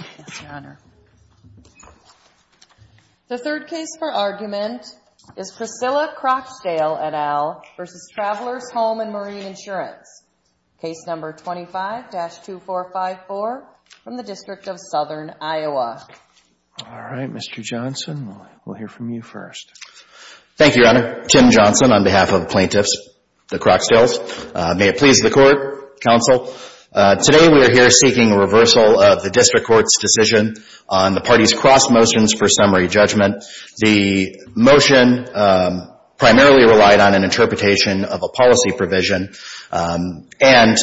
Yes, Your Honor. The third case for argument is Priscilla Croxdale et al. versus Travelers Home and Marine Insurance. Case number 25-2454 from the District of Southern Iowa. All right, Mr. Johnson, we'll hear from you first. Thank you, Your Honor. Ken Johnson on behalf of plaintiffs, the Croxdales. May it please the court, counsel. Today we are here seeking a reversal of the district court's decision on the party's cross motions for summary judgment. The motion primarily relied on an interpretation of a policy provision. And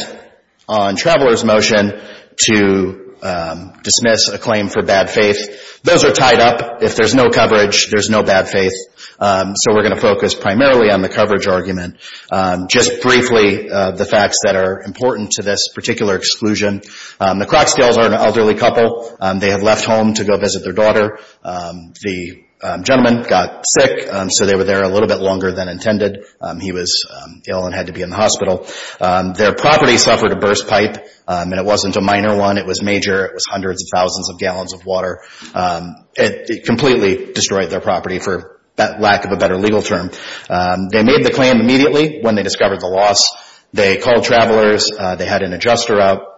on Travelers' motion to dismiss a claim for bad faith, those are tied up. If there's no coverage, there's no bad faith. So we're going to focus primarily on the coverage argument. Just briefly, the facts that are important to this particular exclusion. The Croxdales are an elderly couple. They had left home to go visit their daughter. The gentleman got sick, so they were there a little bit longer than intended. He was ill and had to be in the hospital. Their property suffered a burst pipe, and it wasn't a minor one. It was major. It was hundreds of thousands of gallons of water. It completely destroyed their property for lack of a better legal term. They made the claim immediately when they discovered the loss. They called Travelers. They had an adjuster out.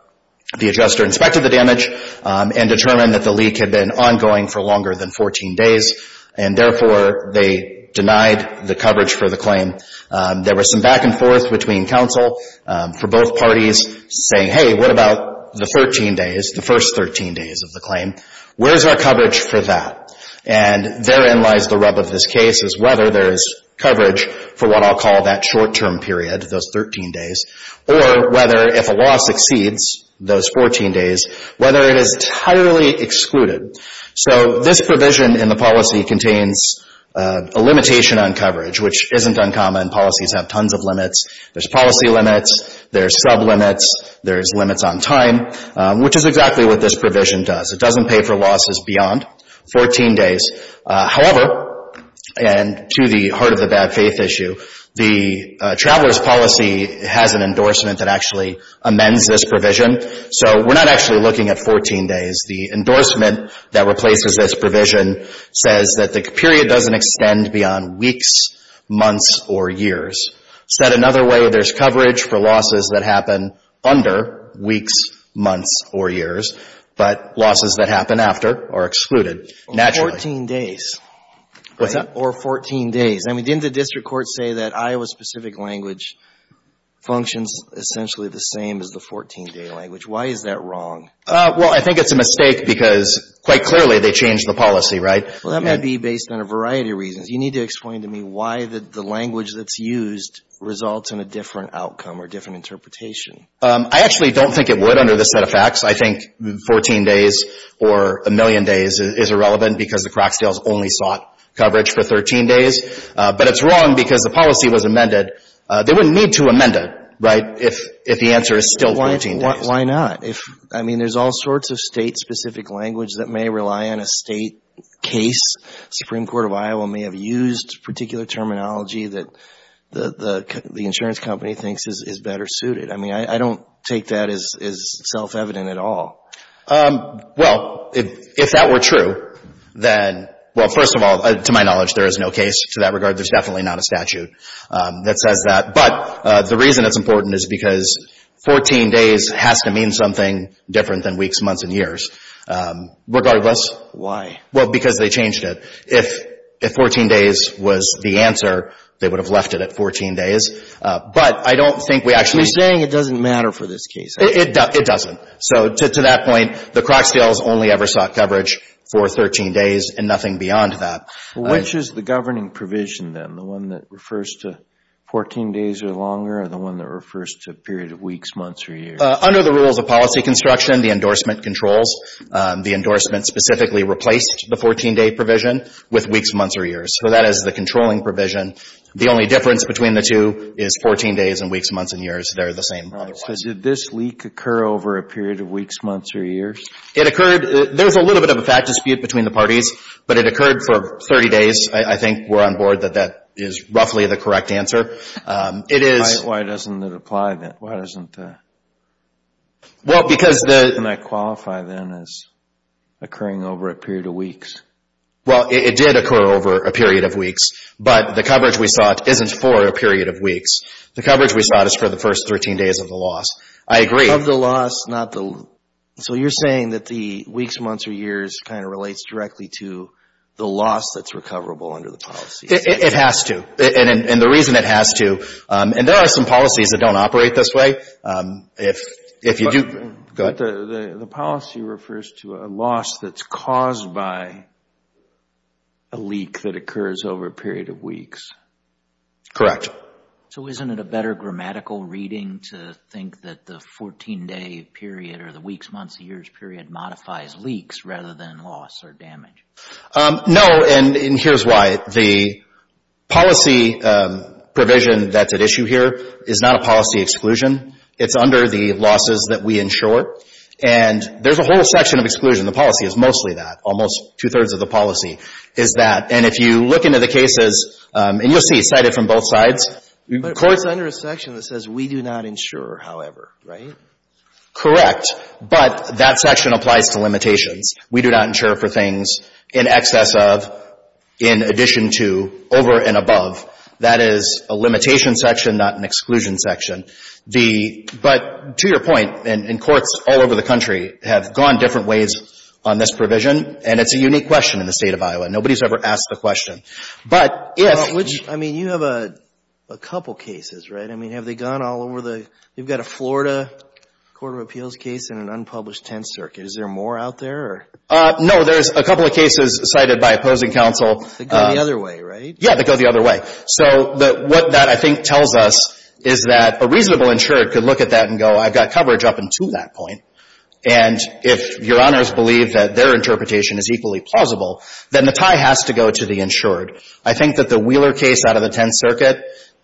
The adjuster inspected the damage and determined that the leak had been ongoing for longer than 14 days, and therefore, they denied the coverage for the claim. There was some back and forth between counsel for both parties saying, hey, what about the 13 days, the first 13 days of the claim? Where's our coverage for that? And therein lies the rub of this case is whether there is coverage for what I'll call that short-term period, those 13 days, or whether if a loss exceeds those 14 days, whether it is entirely excluded. So this provision in the policy contains a limitation on coverage, which isn't uncommon. Policies have tons of limits. There's policy limits. There's sub-limits. There's limits on time, which is exactly what this provision does. It doesn't pay for losses beyond. Fourteen days, however, and to the heart of the bad faith issue, the Travelers policy has an endorsement that actually amends this provision. So we're not actually looking at 14 days. The endorsement that replaces this provision says that the period doesn't extend beyond weeks, months, or years. Said another way, there's coverage for losses that happen under weeks, months, or years, but losses that happen after are excluded, naturally. Fourteen days. What's that? Or 14 days. I mean, didn't the district court say that Iowa-specific language functions essentially the same as the 14-day language? Why is that wrong? Well, I think it's a mistake because, quite clearly, they changed the policy, right? Well, that might be based on a variety of reasons. You need to explain to me why the language that's used results in a different outcome or different interpretation. I actually don't think it would under this set of facts. I think 14 days or a million days is irrelevant because the Crocsdales only sought coverage for 13 days, but it's wrong because the policy was amended. They wouldn't need to amend it, right, if the answer is still 14 days. Why not? I mean, there's all sorts of state-specific language that may rely on a state case. Supreme Court of Iowa may have used particular terminology that the insurance company thinks is better suited. I mean, I don't take that as self-evident at all. Well, if that were true, then, well, first of all, to my knowledge, there is no case to that regard. There's definitely not a statute that says that. But the reason it's important is because 14 days has to mean something different than weeks, months, and years, regardless. Why? Well, because they changed it. If 14 days was the answer, they would have left it at 14 days. But I don't think we actually... So you're saying it doesn't matter for this case? It doesn't. So to that point, the Crocsdales only ever sought coverage for 13 days and nothing beyond that. Which is the governing provision, then, the one that refers to 14 days or longer or the one that refers to a period of weeks, months, or years? Under the rules of policy construction, the endorsement controls. The endorsement specifically replaced the 14-day provision with weeks, months, or years. So that is the controlling provision. The only difference between the two is 14 days and weeks, months, and years. They're the same otherwise. So did this leak occur over a period of weeks, months, or years? It occurred... There's a little bit of a fact dispute between the parties, but it occurred for 30 days. I think we're on board that that is roughly the correct answer. It is... Why doesn't it apply then? Why doesn't the... Well, because the... And I qualify then as occurring over a period of weeks. Well, it did occur over a period of weeks. But the coverage we sought isn't for a period of weeks. The coverage we sought is for the first 13 days of the loss. I agree. Of the loss, not the... So you're saying that the weeks, months, or years kind of relates directly to the loss that's recoverable under the policy? It has to. And the reason it has to... And there are some policies that don't operate this way. If you do... Go ahead. The policy refers to a loss that's caused by a leak that occurs over a period of weeks. Correct. So isn't it a better grammatical reading to think that the 14-day period or the weeks, months, or years period modifies leaks rather than loss or damage? No, and here's why. The policy provision that's at issue here is not a policy exclusion. It's under the losses that we insure. And there's a whole section of exclusion. The policy is mostly that. Almost two-thirds of the policy is that. And if you look into the cases, and you'll see cited from both sides, courts... But it's under a section that says we do not insure, however, right? Correct, but that section applies to limitations. We do not insure for things in excess of, in addition to, over and above. That is a limitation section, not an exclusion section. But, to your point, and courts all over the country have gone different ways on this provision, and it's a unique question in the state of Iowa. Nobody's ever asked the question. But if... Which, I mean, you have a couple cases, right? I mean, have they gone all over the... You've got a Florida Court of Appeals case and an unpublished Tenth Circuit. Is there more out there, or... No, there's a couple of cases cited by opposing counsel... That go the other way, right? Yeah, that go the other way. So, what that, I think, tells us is that a reasonable insured could look at that and go, I've got coverage up until that point. And if Your Honors believe that their interpretation is equally plausible, then the tie has to go to the insured. I think that the Wheeler case out of the Tenth Circuit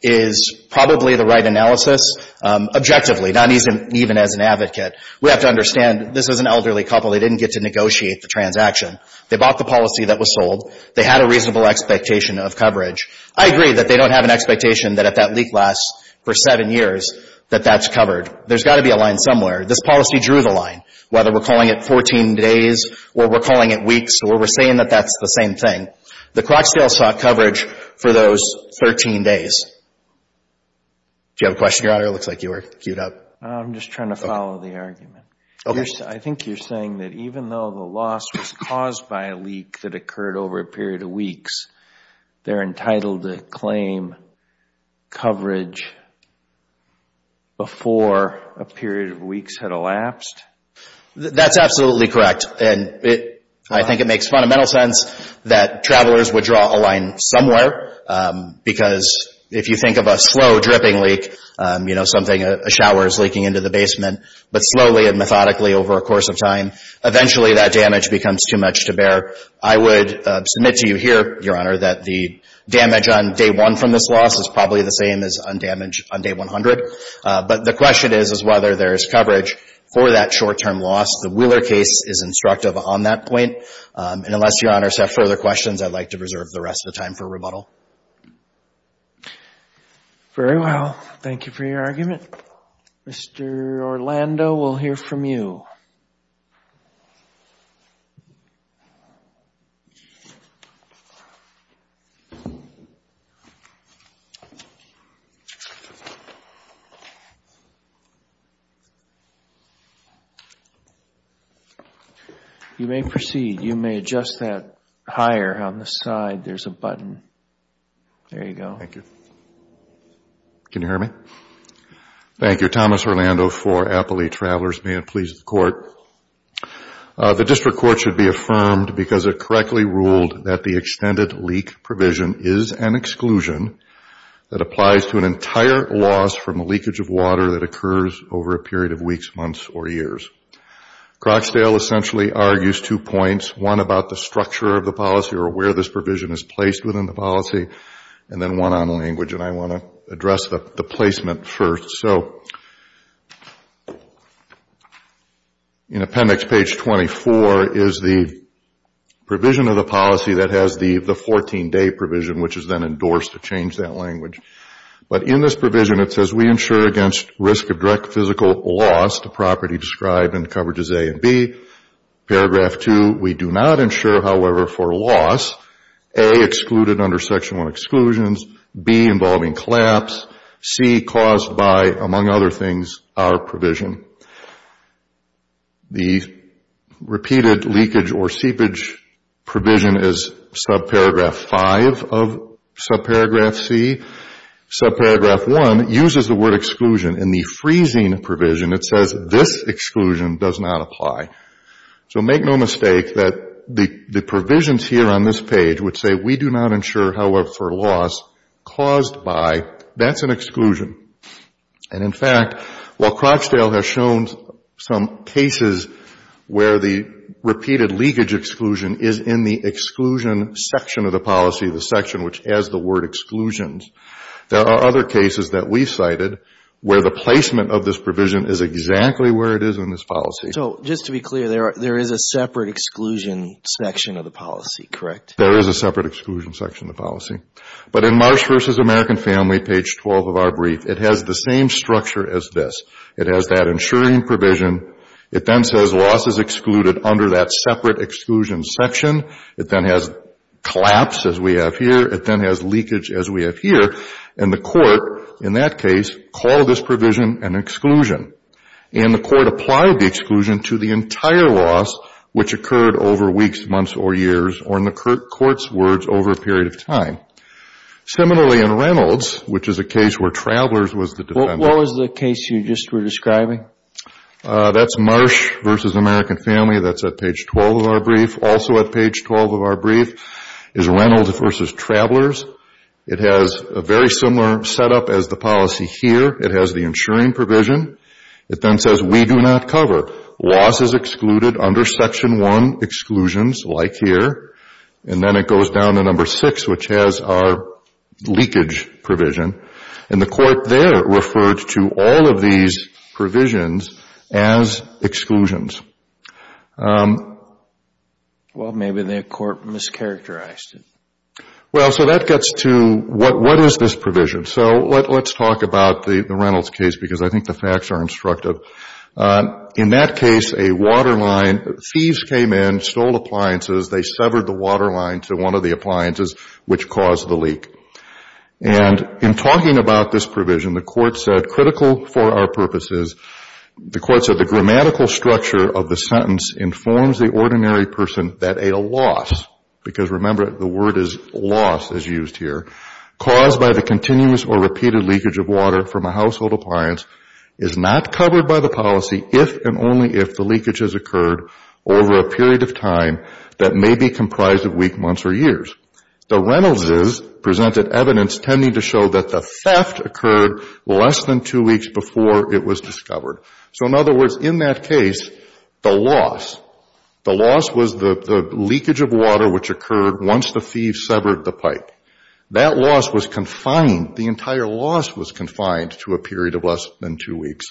is probably the right analysis, objectively, not even as an advocate. We have to understand, this is an elderly couple, they didn't get to negotiate the transaction. They bought the policy that was sold. They had a reasonable expectation of coverage. I agree that they don't have an expectation that if that leak lasts for seven years, that that's covered. There's got to be a line somewhere. This policy drew the line, whether we're calling it 14 days, or we're calling it weeks, or we're saying that that's the same thing. The Crotchdale sought coverage for those 13 days. Do you have a question, Your Honor? It looks like you were queued up. I'm just trying to follow the argument. I think you're saying that even though the loss was caused by a leak that occurred over a period of weeks, they're entitled to claim coverage before a period of weeks had elapsed? That's absolutely correct. I think it makes fundamental sense that travelers would draw a line somewhere because if you think of a slow dripping leak, something, a shower is leaking into the basement, but slowly and methodically over a course of time, eventually that damage becomes too much to I would submit to you here, Your Honor, that the damage on day one from this loss is probably the same as on damage on day 100. But the question is, is whether there's coverage for that short-term loss. The Wheeler case is instructive on that point, and unless Your Honors have further questions, I'd like to reserve the rest of the time for rebuttal. Very well. Thank you for your argument. Mr. Orlando, we'll hear from you. You may proceed. You may adjust that higher on the side. There's a button. There you go. Thank you. Can you hear me? Thank you. Thomas Orlando for Appalachian Travelers. May it please the Court. The District Court should be affirmed because it correctly ruled that the extended leak provision is an exclusion that applies to an entire loss from a leakage of water that occurs over a period of weeks, months, or years. Crocsdale essentially argues two points. One about the structure of the policy or where this provision is placed within the policy, and then one on language, and I want to address the placement first. So in appendix page 24 is the provision of the policy that has the 14-day provision, which is then endorsed to change that language. But in this provision, it says we ensure against risk of direct physical loss to property described in coverages A and B, paragraph 2, we do not ensure, however, for loss, A, excluded under Section 1 exclusions, B, involving collapse, C, caused by, among other things, our provision. The repeated leakage or seepage provision is subparagraph 5 of subparagraph C. Subparagraph 1 uses the word exclusion. In the freezing provision, it says this exclusion does not apply. So make no mistake that the provisions here on this page would say we do not ensure, however, for loss caused by, that's an exclusion. And in fact, while Crocsdale has shown some cases where the repeated leakage exclusion is in the exclusion section of the policy, the section which has the word exclusions, there are other cases that we've cited where the placement of this provision is exactly where it is in this policy. So just to be clear, there is a separate exclusion section of the policy, correct? There is a separate exclusion section of the policy. But in Marsh v. American Family, page 12 of our brief, it has the same structure as this. It has that ensuring provision. It then says loss is excluded under that separate exclusion section. It then has collapse, as we have here. It then has leakage, as we have here. And the court, in that case, called this provision an exclusion, and the court applied the exclusion to the entire loss, which occurred over weeks, months, or years, or in the court's words, over a period of time. Similarly, in Reynolds, which is a case where Travelers was the defendant. What was the case you just were describing? That's Marsh v. American Family. That's at page 12 of our brief. Also at page 12 of our brief is Reynolds v. Travelers. It has a very similar setup as the policy here. It has the ensuring provision. It then says we do not cover. Loss is excluded under section 1, exclusions, like here. And then it goes down to number 6, which has our leakage provision. And the court there referred to all of these provisions as exclusions. Well, maybe the court mischaracterized it. Well, so that gets to what is this provision. So let's talk about the Reynolds case, because I think the facts are instructive. In that case, a waterline, thieves came in, stole appliances. They severed the waterline to one of the appliances, which caused the leak. And in talking about this provision, the court said, critical for our purposes, the court said the grammatical structure of the sentence informs the ordinary person that a loss, because remember the word is loss as used here, caused by the continuous or repeated leakage of water from a household appliance is not covered by the policy if and only if the leakage has occurred over a period of time that may be comprised of weeks, months, or years. The Reynoldses presented evidence tending to show that the theft occurred less than two weeks before it was discovered. So in other words, in that case, the loss, the loss was the leakage of water which occurred once the thieves severed the pipe. That loss was confined, the entire loss was confined to a period of less than two weeks.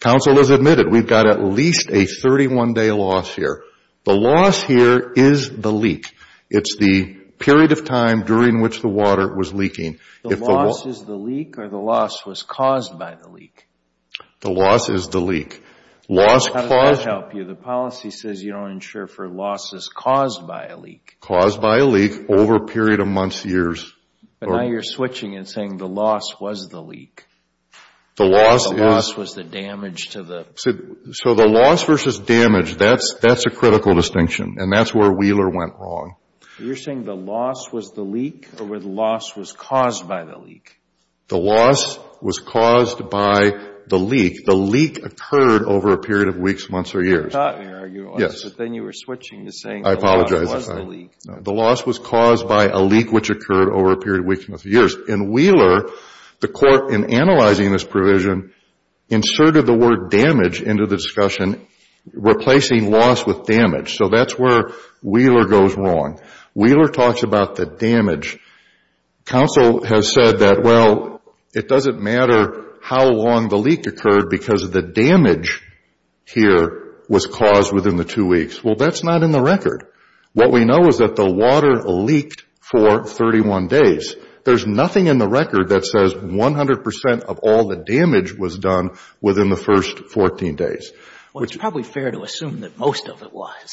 Counsel has admitted we've got at least a 31-day loss here. The loss here is the leak. It's the period of time during which the water was leaking. The loss is the leak or the loss was caused by the leak? The loss is the leak. How does that help you? The policy says you don't insure for losses caused by a leak. Caused by a leak over a period of months, years. But now you're switching and saying the loss was the leak. The loss is. The loss was the damage to the. So the loss versus damage, that's a critical distinction and that's where Wheeler went wrong. You're saying the loss was the leak or the loss was caused by the leak? The loss was caused by the leak. The leak occurred over a period of weeks, months, or years. I thought you were arguing. Yes. But then you were switching and saying the loss was the leak. The loss was caused by a leak which occurred over a period of weeks, months, or years. In Wheeler, the court in analyzing this provision inserted the word damage into the discussion replacing loss with damage. So that's where Wheeler goes wrong. Wheeler talks about the damage. Counsel has said that, well, it doesn't matter how long the leak occurred because the damage here was caused within the two weeks. Well, that's not in the record. What we know is that the water leaked for 31 days. There's nothing in the record that says 100% of all the damage was done within the first 14 days. Well, it's probably fair to assume that most of it was.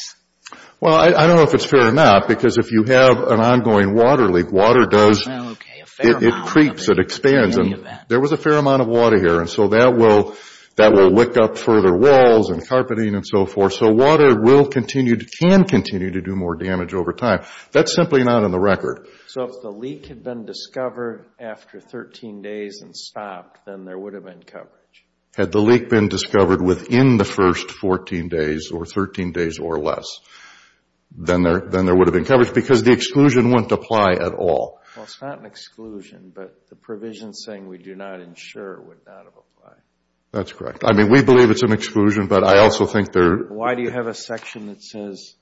Well, I don't know if it's fair or not because if you have an ongoing water leak, water does – Well, okay. A fair amount of it. It creeps. It expands. In any event. There was a fair amount of water here and so that will lick up further walls and carpeting and so forth. So water will continue – can continue to do more damage over time. That's simply not in the record. So if the leak had been discovered after 13 days and stopped, then there would have been coverage. Had the leak been discovered within the first 14 days or 13 days or less, then there would have been coverage because the exclusion wouldn't apply at all. Well, it's not an exclusion, but the provision saying we do not ensure would not have applied. That's correct. I mean, we believe it's an exclusion, but I also think there – Why do you have a section that says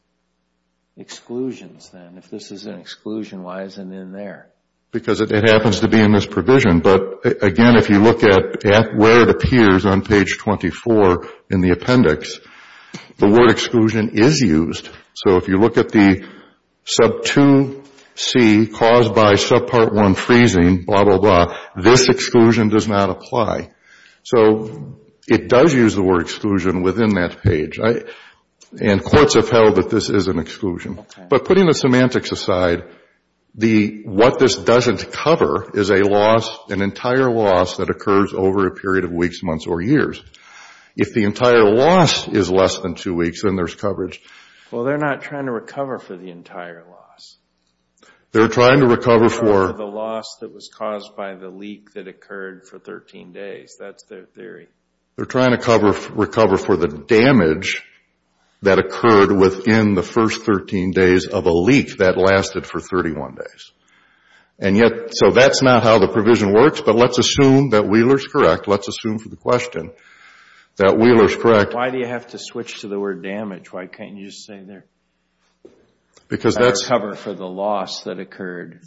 exclusions then? If this is an exclusion, why is it in there? Because it happens to be in this provision, but again, if you look at where it appears on page 24 in the appendix, the word exclusion is used. So if you look at the sub 2C caused by sub part 1 freezing, blah, blah, blah, this exclusion does not apply. So it does use the word exclusion within that page, and courts have held that this is an exclusion. But putting the semantics aside, the – what this doesn't cover is a loss, an entire loss that occurs over a period of weeks, months, or years. If the entire loss is less than two weeks, then there's coverage. Well, they're not trying to recover for the entire loss. They're trying to recover for – That's their theory. They're trying to recover for the damage that occurred within the first 13 days of a leak that lasted for 31 days. And yet, so that's not how the provision works, but let's assume that Wheeler's correct. Let's assume for the question that Wheeler's correct. Why do you have to switch to the word damage? Why can't you just say there, recover for the loss that occurred?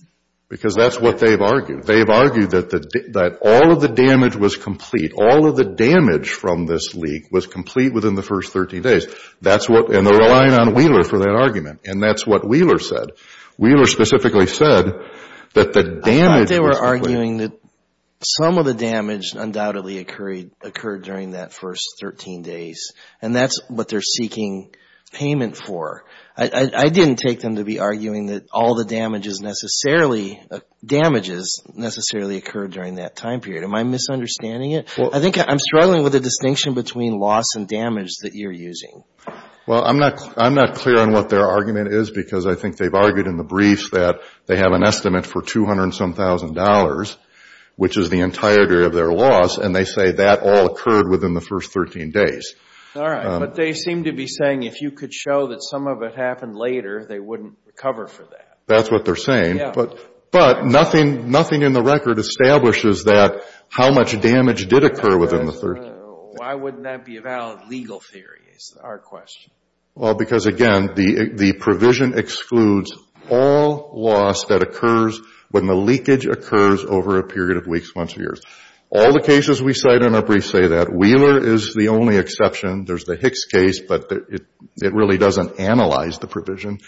Because that's what they've argued. They've argued that all of the damage was complete. All of the damage from this leak was complete within the first 13 days. That's what – and they're relying on Wheeler for that argument. And that's what Wheeler said. Wheeler specifically said that the damage was complete. I thought they were arguing that some of the damage undoubtedly occurred during that first 13 days, and that's what they're seeking payment for. I didn't take them to be arguing that all the damages necessarily – damages necessarily occurred during that time period. Am I misunderstanding it? I think I'm struggling with the distinction between loss and damage that you're using. Well, I'm not clear on what their argument is because I think they've argued in the brief that they have an estimate for $200 and some thousand, which is the entire area of their loss, and they say that all occurred within the first 13 days. All right. But they seem to be saying if you could show that some of it happened later, they wouldn't recover for that. That's what they're saying. Yeah. But nothing in the record establishes that – how much damage did occur within the first 13 days. Why wouldn't that be a valid legal theory is our question. Well, because again, the provision excludes all loss that occurs when the leakage occurs over a period of weeks, months, or years. All the cases we cite in our brief say that. Wheeler is the only exception. There's the Hicks case, but it really doesn't analyze the provision.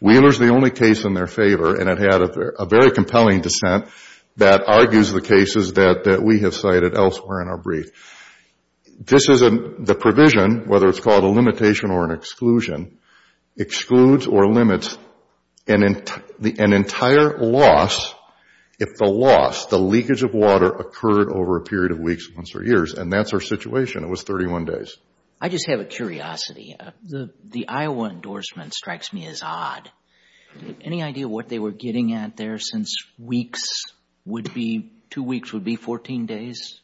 Wheeler's the only case in their favor, and it had a very compelling dissent that argues the cases that we have cited elsewhere in our brief. This is a – the provision, whether it's called a limitation or an exclusion, excludes or limits an entire loss if the loss, the leakage of water, occurred over a period of weeks, months, or years. And that's our situation. It was 31 days. I just have a curiosity. The Iowa endorsement strikes me as odd. Any idea what they were getting at there since weeks would be – two weeks would be 14 days?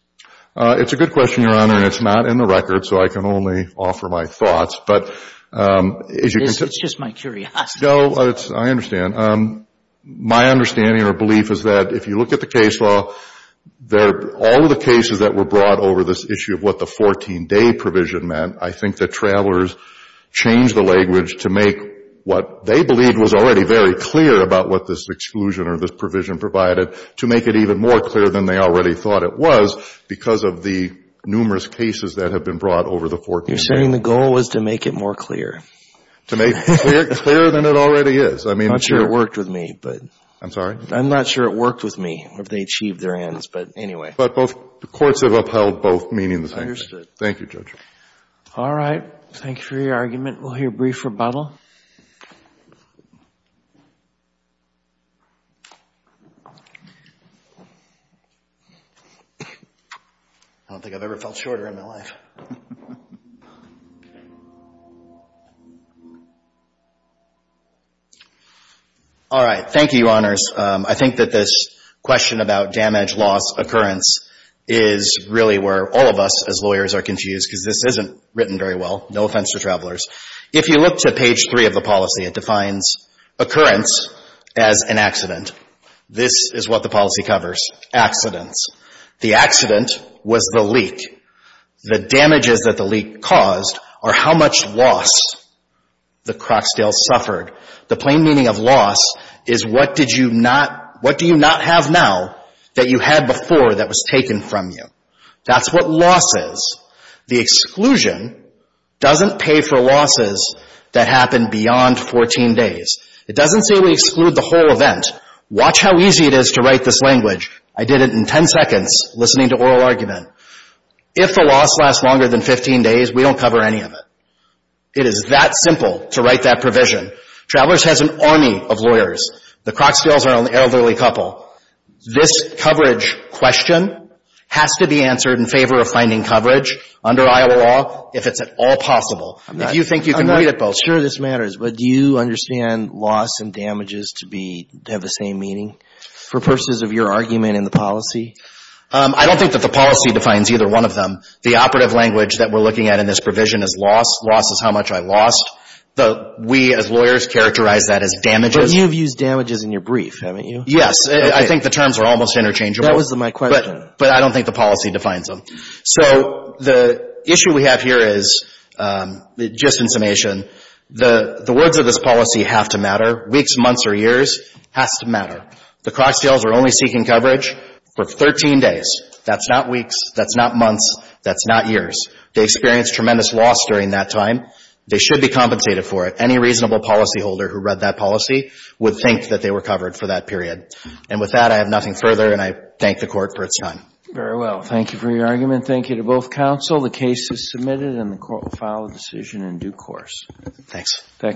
It's a good question, Your Honor, and it's not in the record, so I can only offer my thoughts. But as you can tell – It's just my curiosity. No, it's – I understand. My understanding or belief is that if you look at the case law, all of the cases that were brought over this issue of what the 14-day provision meant, I think the travelers changed the language to make what they believed was already very clear about what this exclusion or this provision provided, to make it even more clear than they already thought it was because of the numerous cases that have been brought over the 14-day. You're saying the goal was to make it more clear. To make it clearer than it already is. I mean – I'm not sure it worked with me, but – I'm sorry? I'm not sure it worked with me, if they achieved their ends. But anyway – But both – the courts have upheld both meaning the same thing. Understood. Thank you, Judge. All right. Thank you for your argument. We'll hear a brief rebuttal. I don't think I've ever felt shorter in my life. All right. Thank you, Your Honors. I think that this question about damage, loss, occurrence is really where all of us as lawyers are confused because this isn't written very well. No offense to travelers. If you look to page 3 of the policy, it defines occurrence as an accident. This is what the policy covers. Accidents. The accident was the leak. The damages that the leak caused are how much loss the Crocsdale suffered. The plain meaning of loss is what did you not – what do you not have now that you had before that was taken from you? That's what loss is. The exclusion doesn't pay for losses that happen beyond 14 days. It doesn't say we exclude the whole event. Watch how easy it is to write this language. I did it in 10 seconds listening to oral argument. If the loss lasts longer than 15 days, we don't cover any of it. It is that simple to write that provision. Travelers has an army of lawyers. The Crocsdales are an elderly couple. This coverage question has to be answered in favor of finding coverage under Iowa law if it's at all possible. If you think you can read it both – I'm not sure this matters, but do you understand loss and damages to be – to have the same meaning for purposes of your argument in the policy? I don't think that the policy defines either one of them. The operative language that we're looking at in this provision is loss. Loss is how much I lost. We as lawyers characterize that as damages. But you've used damages in your brief, haven't you? Yes. I think the terms are almost interchangeable. That was my question. But I don't think the policy defines them. So the issue we have here is, just in summation, the words of this policy have to matter. Weeks, months, or years has to matter. The Crocsdales are only seeking coverage for 13 days. That's not weeks. That's not months. That's not years. They experienced tremendous loss during that time. They should be compensated for it. Any reasonable policyholder who read that policy would think that they were covered for that period. And with that, I have nothing further, and I thank the Court for its time. Very well. Thank you for your argument. Thank you to both counsel. The case is submitted, and the Court will file a decision in due course. Thanks. Thank you.